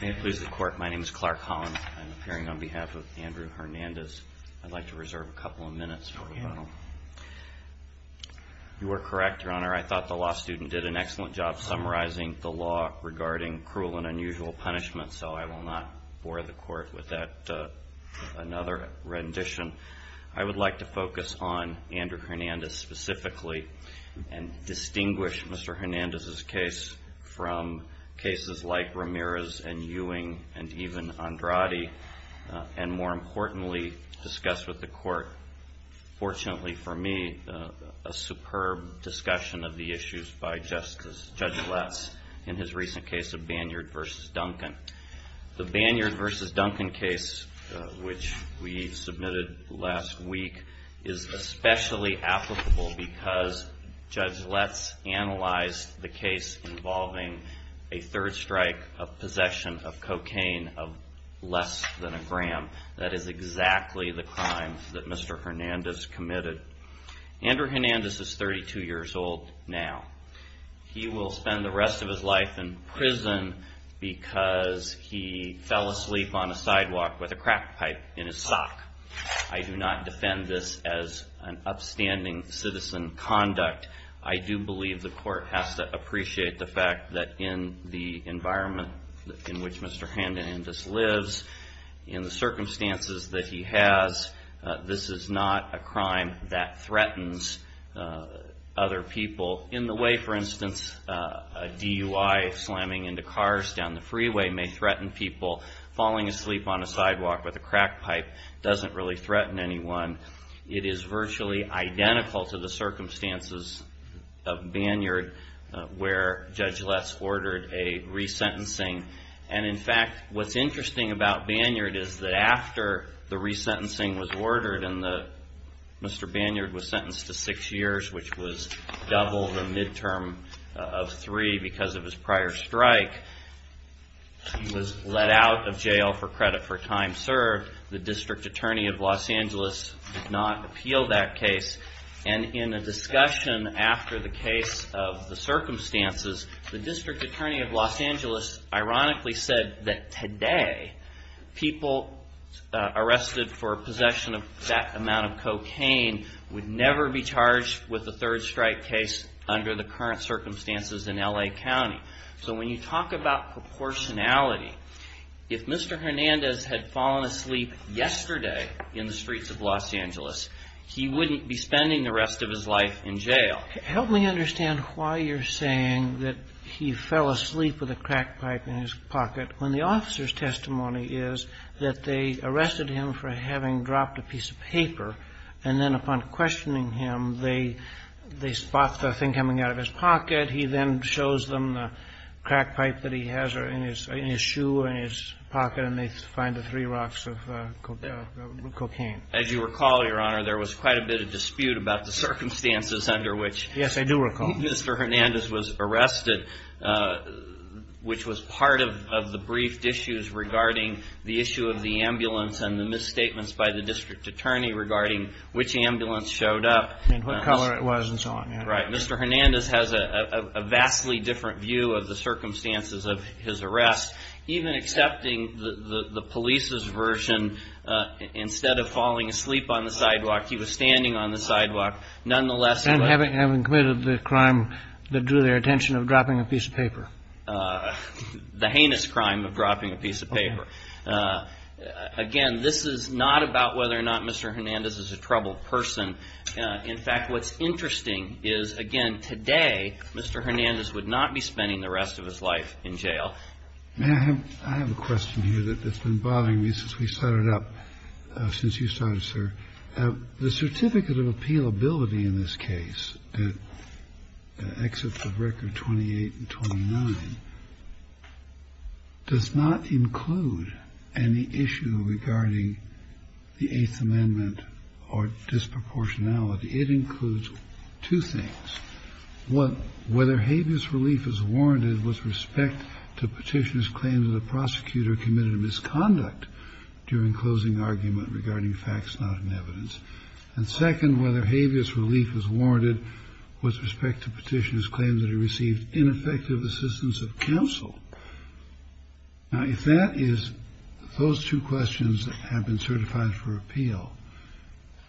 May it please the Court, my name is Clark Holland. I'm appearing on behalf of Andrew Hernandez. I'd like to reserve a couple of minutes for the panel. You are correct, Your Honor. I thought the law student did an excellent job summarizing the law regarding cruel and unusual punishment, so I will not bore the Court with that, with another rendition. I would like to focus on Andrew Hernandez specifically and distinguish Mr. Hernandez's case from cases like Ramirez and Ewing and even Andrade, and more importantly, discuss with the Court, fortunately for me, a superb discussion of the issues by Judge Latz in his recent case of Banyard v. Duncan. The Banyard v. Duncan case, which we submitted last week, is especially applicable because Judge Latz analyzed the case involving a third strike of possession of cocaine of less than a gram. That is exactly the crime that Mr. Hernandez committed. Andrew Hernandez is 32 years old now. He will spend the rest of his life in prison because he fell asleep on a sidewalk with a crack pipe in his sock. I do not defend this as an upstanding citizen conduct. I do believe the Court has to appreciate the fact that in the environment in which Mr. Hernandez lives, in the circumstances that he has, this is not a crime that threatens other people. In the way, for instance, a DUI slamming into cars down the freeway may threaten people. Falling asleep on a sidewalk with a crack pipe does not really threaten anyone. It is virtually identical to the circumstances of Banyard where Judge Latz ordered a resentencing. In fact, what is interesting about Banyard is that after the resentencing was ordered and Mr. Banyard was sentenced to six years, which was double the midterm of three because of his prior strike, he was let out of jail for credit for time served. The District Attorney of Los Angeles did not appeal that case. And in a discussion after the case of the circumstances, the District Attorney of Los Angeles ironically said that today people arrested for possession of that amount of cocaine would never be charged with a third strike case under the current circumstances in L.A. County. So when you talk about proportionality, if Mr. Hernandez had fallen asleep yesterday in the streets of Los Angeles, he wouldn't be spending the rest of his life in jail. Help me understand why you're saying that he fell asleep with a crack pipe in his pocket when the officer's testimony is that they arrested him for having dropped a piece of paper, and then upon questioning him, they spot the thing coming out of his pocket. He then shows them the crack pipe that he has in his shoe or in his pocket, and they find the three rocks of cocaine. As you recall, Your Honor, there was quite a bit of dispute about the circumstances under which Mr. Hernandez was arrested, which was part of the briefed issues regarding the issue of the ambulance and the misstatements by the District Attorney regarding which ambulance showed up. And what color it was and so on. Right. Mr. Hernandez has a vastly different view of the circumstances of his arrest. Even accepting the police's version, instead of falling asleep on the sidewalk, he was standing on the sidewalk. Nonetheless, he was… And having committed the crime that drew their attention of dropping a piece of paper. The heinous crime of dropping a piece of paper. Again, this is not about whether or not Mr. Hernandez is a troubled person. In fact, what's interesting is, again, today, Mr. Hernandez would not be spending the rest of his life in jail. May I have a question here that's been bothering me since we started up, since you started, sir? The certificate of appealability in this case that exits the record 28 and 29 does not include any issue regarding the Eighth Amendment or disproportionality. It includes two things. One, whether habeas relief is warranted with respect to Petitioner's claim that a prosecutor committed a misconduct during closing argument regarding facts not in evidence. And second, whether habeas relief is warranted with respect to Petitioner's claim that he received ineffective assistance of counsel. Now, if that is those two questions that have been certified for appeal,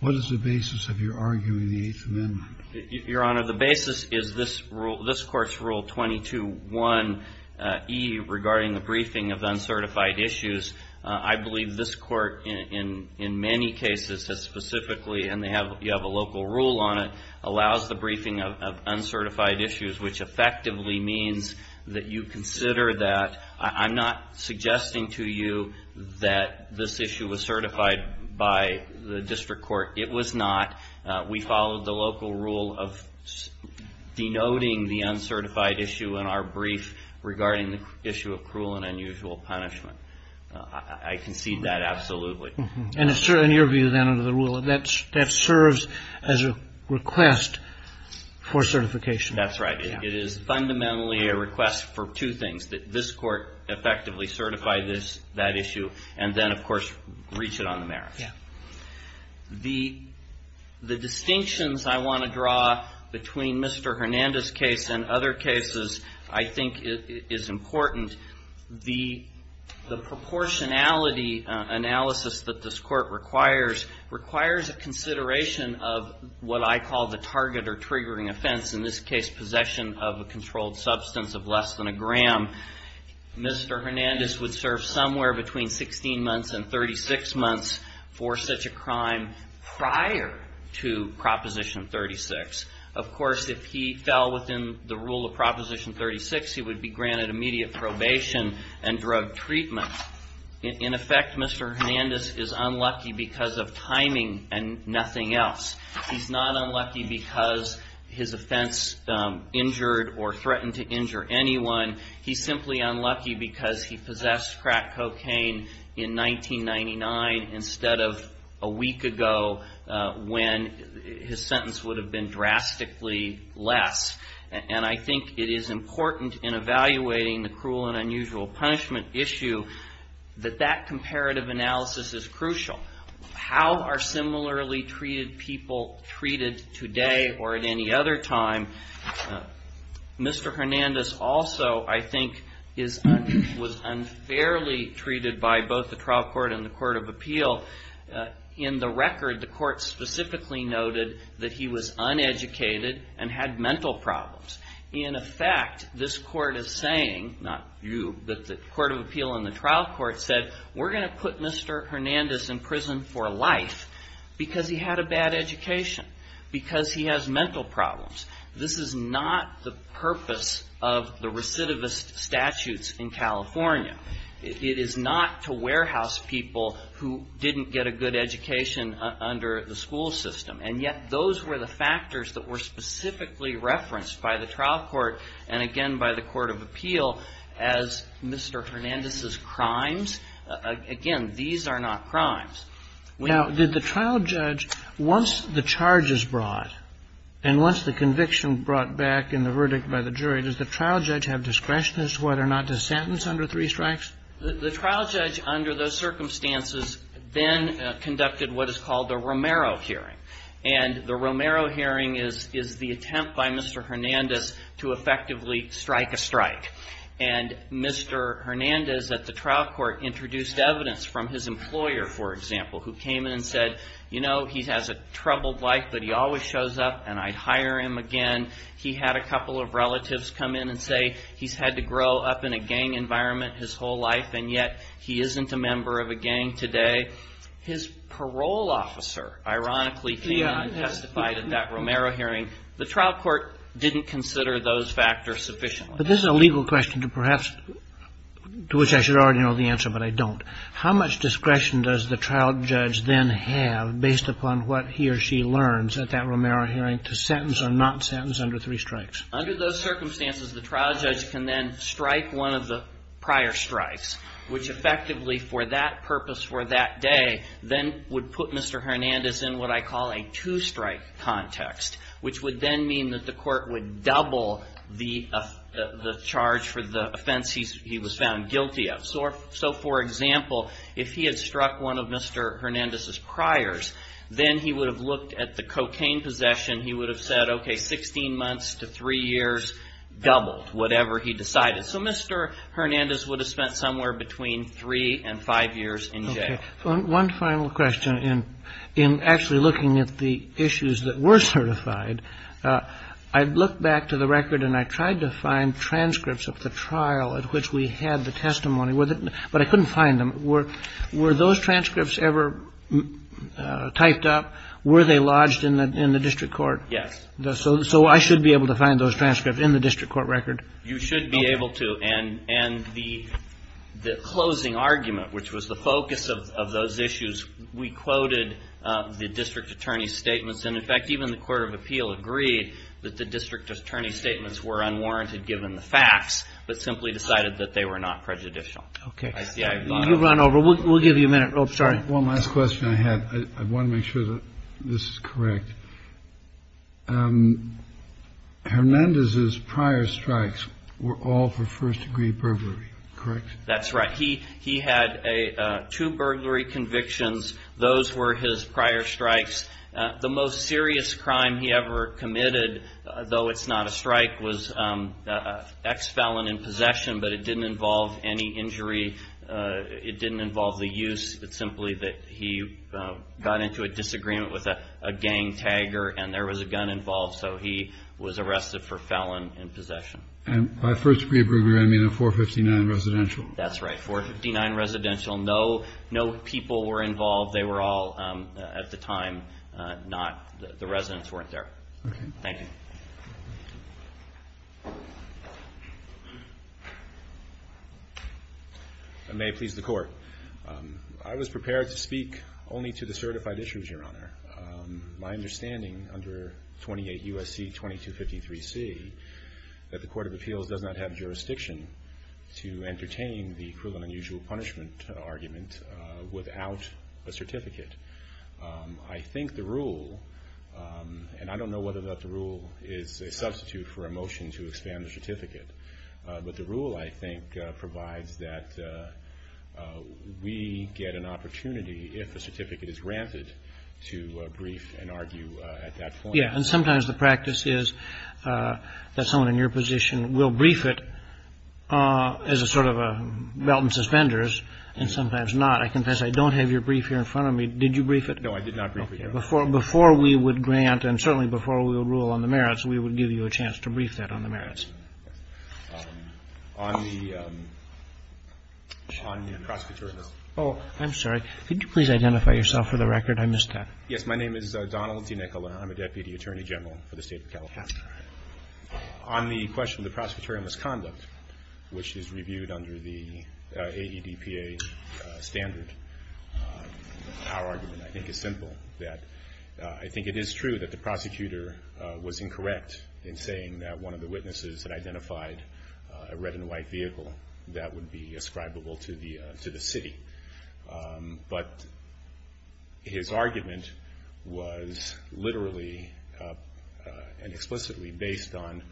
what is the basis of your arguing the Eighth Amendment? Your Honor, the basis is this court's Rule 22.1e regarding the briefing of uncertified issues. I believe this court in many cases has specifically, and you have a local rule on it, allows the briefing of uncertified issues, which effectively means that you consider that. I'm not suggesting to you that this issue was certified by the district court. It was not. We followed the local rule of denoting the uncertified issue in our brief regarding the issue of cruel and unusual punishment. I concede that absolutely. And in your view, then, under the rule, that serves as a request for certification? That's right. It is fundamentally a request for two things, that this court effectively certify this, that issue, and then, of course, reach it on the merits. Yeah. The distinctions I want to draw between Mr. Hernandez's case and other cases I think is important. The proportionality analysis that this court requires requires a consideration of what I call the target or triggering offense. In this case, possession of a controlled substance of less than a gram. Mr. Hernandez would serve somewhere between 16 months and 36 months for such a crime prior to Proposition 36. Of course, if he fell within the rule of Proposition 36, he would be granted immediate probation and drug treatment. In effect, Mr. Hernandez is unlucky because of timing and nothing else. He's not unlucky because his offense injured or threatened to injure anyone. He's simply unlucky because he possessed crack cocaine in 1999 instead of a week ago when his sentence would have been drastically less. And I think it is important in evaluating the cruel and unusual punishment issue that that comparative analysis is crucial. How are similarly treated people treated today or at any other time? Mr. Hernandez also, I think, was unfairly treated by both the trial court and the court of appeal. In the record, the court specifically noted that he was uneducated and had mental problems. In effect, this court is saying, not you, but the court of appeal and the trial court said, we're going to put Mr. Hernandez in prison for life because he had a bad education, because he has mental problems. This is not the purpose of the recidivist statutes in California. It is not to warehouse people who didn't get a good education under the school system. And yet, those were the factors that were specifically referenced by the trial court and, again, by the court of appeal as Mr. Hernandez's crimes. Again, these are not crimes. Now, did the trial judge, once the charge is brought and once the conviction brought back in the verdict by the jury, does the trial judge have discretion as to whether or not to sentence under three strikes? The trial judge, under those circumstances, then conducted what is called the Romero hearing. And the Romero hearing is the attempt by Mr. Hernandez to effectively strike a strike. And Mr. Hernandez at the trial court introduced evidence from his employer, for example, who came in and said, you know, he has a troubled life, but he always shows up and I'd hire him again. He had a couple of relatives come in and say he's had to grow up in a gang environment his whole life, and yet he isn't a member of a gang today. His parole officer, ironically, came in and testified at that Romero hearing. The trial court didn't consider those factors sufficiently. But this is a legal question to perhaps, to which I should already know the answer, but I don't. How much discretion does the trial judge then have, based upon what he or she learns at that Romero hearing, to sentence or not sentence under three strikes? Under those circumstances, the trial judge can then strike one of the prior strikes, which effectively, for that purpose, for that day, then would put Mr. Hernandez in what I call a two-strike context, which would then mean that the court would double the charge for the offense he was found guilty of. So, for example, if he had struck one of Mr. Hernandez's priors, then he would have looked at the cocaine possession. He would have said, okay, 16 months to three years doubled, whatever he decided. So Mr. Hernandez would have spent somewhere between three and five years in jail. Okay. One final question. In actually looking at the issues that were certified, I looked back to the record and I tried to find transcripts of the trial at which we had the testimony, but I couldn't find them. Were those transcripts ever typed up? Were they lodged in the district court? Yes. So I should be able to find those transcripts in the district court record? You should be able to. And the closing argument, which was the focus of those issues, we quoted the district attorney's statements. And, in fact, even the court of appeal agreed that the district attorney's statements were unwarranted given the facts, but simply decided that they were not prejudicial. Okay. You run over. We'll give you a minute. Oh, sorry. I want to make sure that this is correct. Hernandez's prior strikes were all for first-degree burglary, correct? That's right. He had two burglary convictions. Those were his prior strikes. The most serious crime he ever committed, though it's not a strike, was an ex-felon in possession, but it didn't involve any injury. It didn't involve the use. It's simply that he got into a disagreement with a gang tagger, and there was a gun involved, so he was arrested for felon in possession. And by first-degree burglary, I mean a 459 residential. That's right, 459 residential. No people were involved. They were all, at the time, not the residents weren't there. Okay. Thank you. I may please the Court. I was prepared to speak only to the certified issues, Your Honor. My understanding under 28 U.S.C. 2253C that the Court of Appeals does not have jurisdiction to entertain the equivalent unusual punishment argument without a certificate. I think the rule, and I don't know whether or not the rule is a substitute for a motion to expand the certificate, but the rule, I think, provides that we get an opportunity, if a certificate is granted, to brief and argue at that point. Yes. And sometimes the practice is that someone in your position will brief it as a sort of a belt and suspenders, and sometimes not. I confess I don't have your brief here in front of me. Did you brief it? No, I did not brief it, Your Honor. Okay. Before we would grant, and certainly before we would rule on the merits, we would give you a chance to brief that on the merits. On the prosecutorial misconduct. Oh, I'm sorry. Could you please identify yourself for the record? I missed that. Yes. My name is Donald T. Nicola. I'm a Deputy Attorney General for the State of California. On the question of the prosecutorial misconduct, which is reviewed under the AEDPA standard, our argument, I think, is simple. I think it is true that the prosecutor was incorrect in saying that one of the witnesses had identified a red and white vehicle that would be ascribable to the city. But his argument was literally and explicitly based on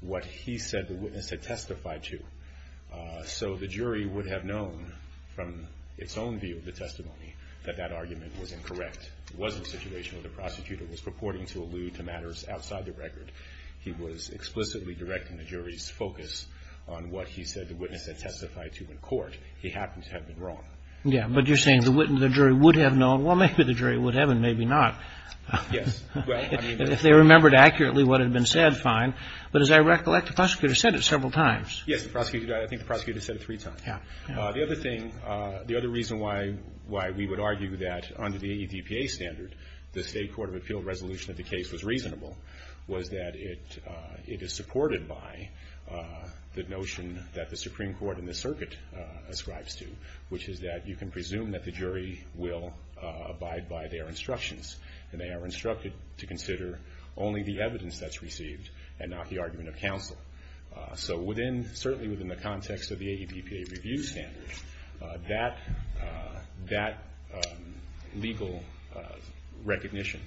what he said the witness had testified to. So the jury would have known from its own view of the testimony that that argument was incorrect. It wasn't situational. The prosecutor was purporting to allude to matters outside the record. He was explicitly directing the jury's focus on what he said the witness had testified to in court. He happens to have been wrong. Yeah. But you're saying the jury would have known. Well, maybe the jury would have and maybe not. Yes. If they remembered accurately what had been said, fine. But as I recollect, the prosecutor said it several times. Yes. I think the prosecutor said it three times. Yeah. The other thing, the other reason why we would argue that under the AEDPA standard, the State Court of Appeal resolution of the case was reasonable, was that it is supported by the notion that the Supreme Court and the circuit ascribes to, which is that you can presume that the jury will abide by their instructions and they are instructed to consider only the evidence that's received and not the argument of counsel. So certainly within the context of the AEDPA review standard, that legal recognition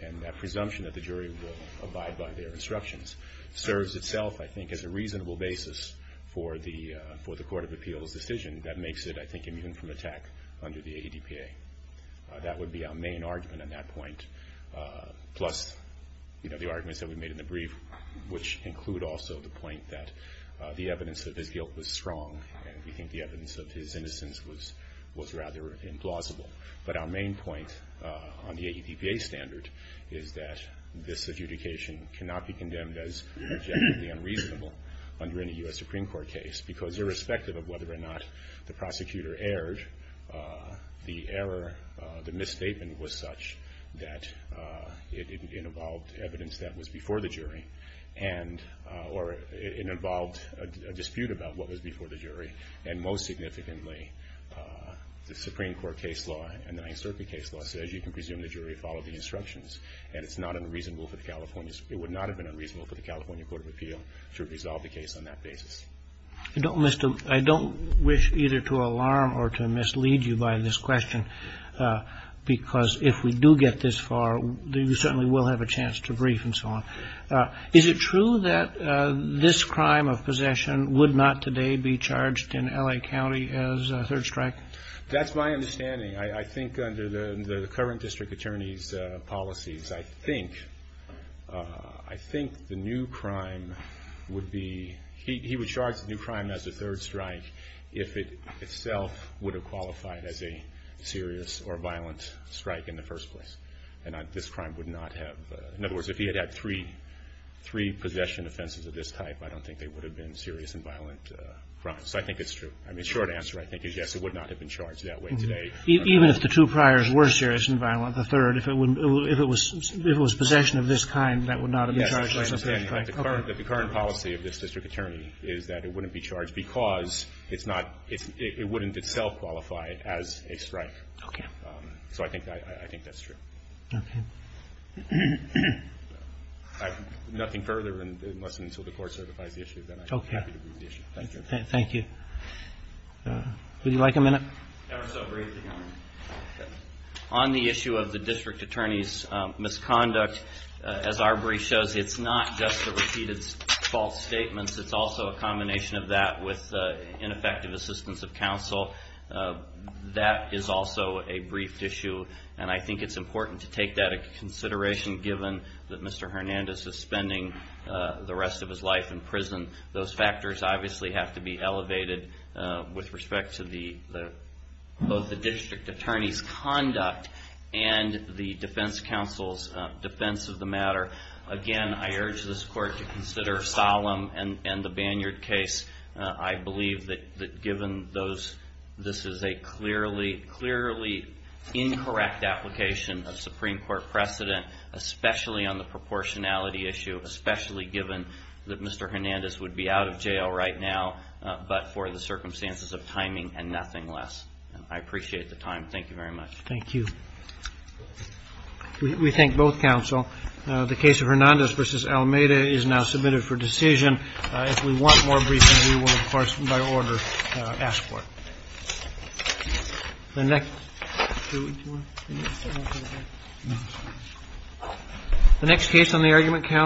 and that presumption that the jury will abide by their instructions serves itself, I think, as a reasonable basis for the Court of Appeal's decision that makes it, I think, immune from attack under the AEDPA. That would be our main argument on that point, plus the arguments that we made in the brief, which include also the point that the evidence of his guilt was strong and we think the evidence of his innocence was rather implausible. But our main point on the AEDPA standard is that this adjudication cannot be condemned as objectively unreasonable under any U.S. Supreme Court case because irrespective of whether or not the prosecutor erred, the error, the misstatement was such that it involved evidence that was before the jury or it involved a dispute about what was before the jury and most significantly, the Supreme Court case law and the Ninth Circuit case law says you can presume the jury followed the instructions and it's not unreasonable for the California's it would not have been unreasonable for the California Court of Appeal to resolve the case on that basis. I don't wish either to alarm or to mislead you by this question because if we do get this far, you certainly will have a chance to brief and so on. Is it true that this crime of possession would not today be charged in L.A. County as a third strike? That's my understanding. I think under the current district attorney's policies, I think the new crime would be he would charge the new crime as a third strike if it itself would have qualified as a serious or violent strike in the first place and this crime would not have in other words, if he had had three possession offenses of this type I don't think they would have been serious and violent crimes so I think it's true. The short answer I think is yes, it would not have been charged that way today. Even if the two priors were serious and violent, the third if it was possession of this kind, that would not have been charged as a third strike? Yes, that's what I'm saying. The current policy of this district attorney is that it wouldn't be charged because it wouldn't itself qualify as a strike. Okay. So I think that's true. Okay. Nothing further unless and until the court certifies the issue then I'm happy to move the issue. Thank you. Thank you. Would you like a minute? On the issue of the district attorney's misconduct as our brief shows, it's not just the repeated false statements it's also a combination of that with ineffective assistance of counsel that is also a brief issue and I think it's important to take that into consideration given that Mr. Hernandez is spending the rest of his life in prison those factors obviously have to be elevated with respect to both the district attorney's conduct and the defense counsel's defense of the matter. Again, I urge this court to consider Solem and the Banyard case. I believe that given this is a clearly incorrect application of Supreme Court precedent especially on the proportionality issue especially given that Mr. Hernandez would be out of jail right now but for the circumstances of timing and nothing less. I appreciate the time. Thank you very much. Thank you. We thank both counsel. The case of Hernandez v. Almeida is now submitted for decision. If we want more briefing, we will, of course, by order, ask for it. The next case on the argument counsel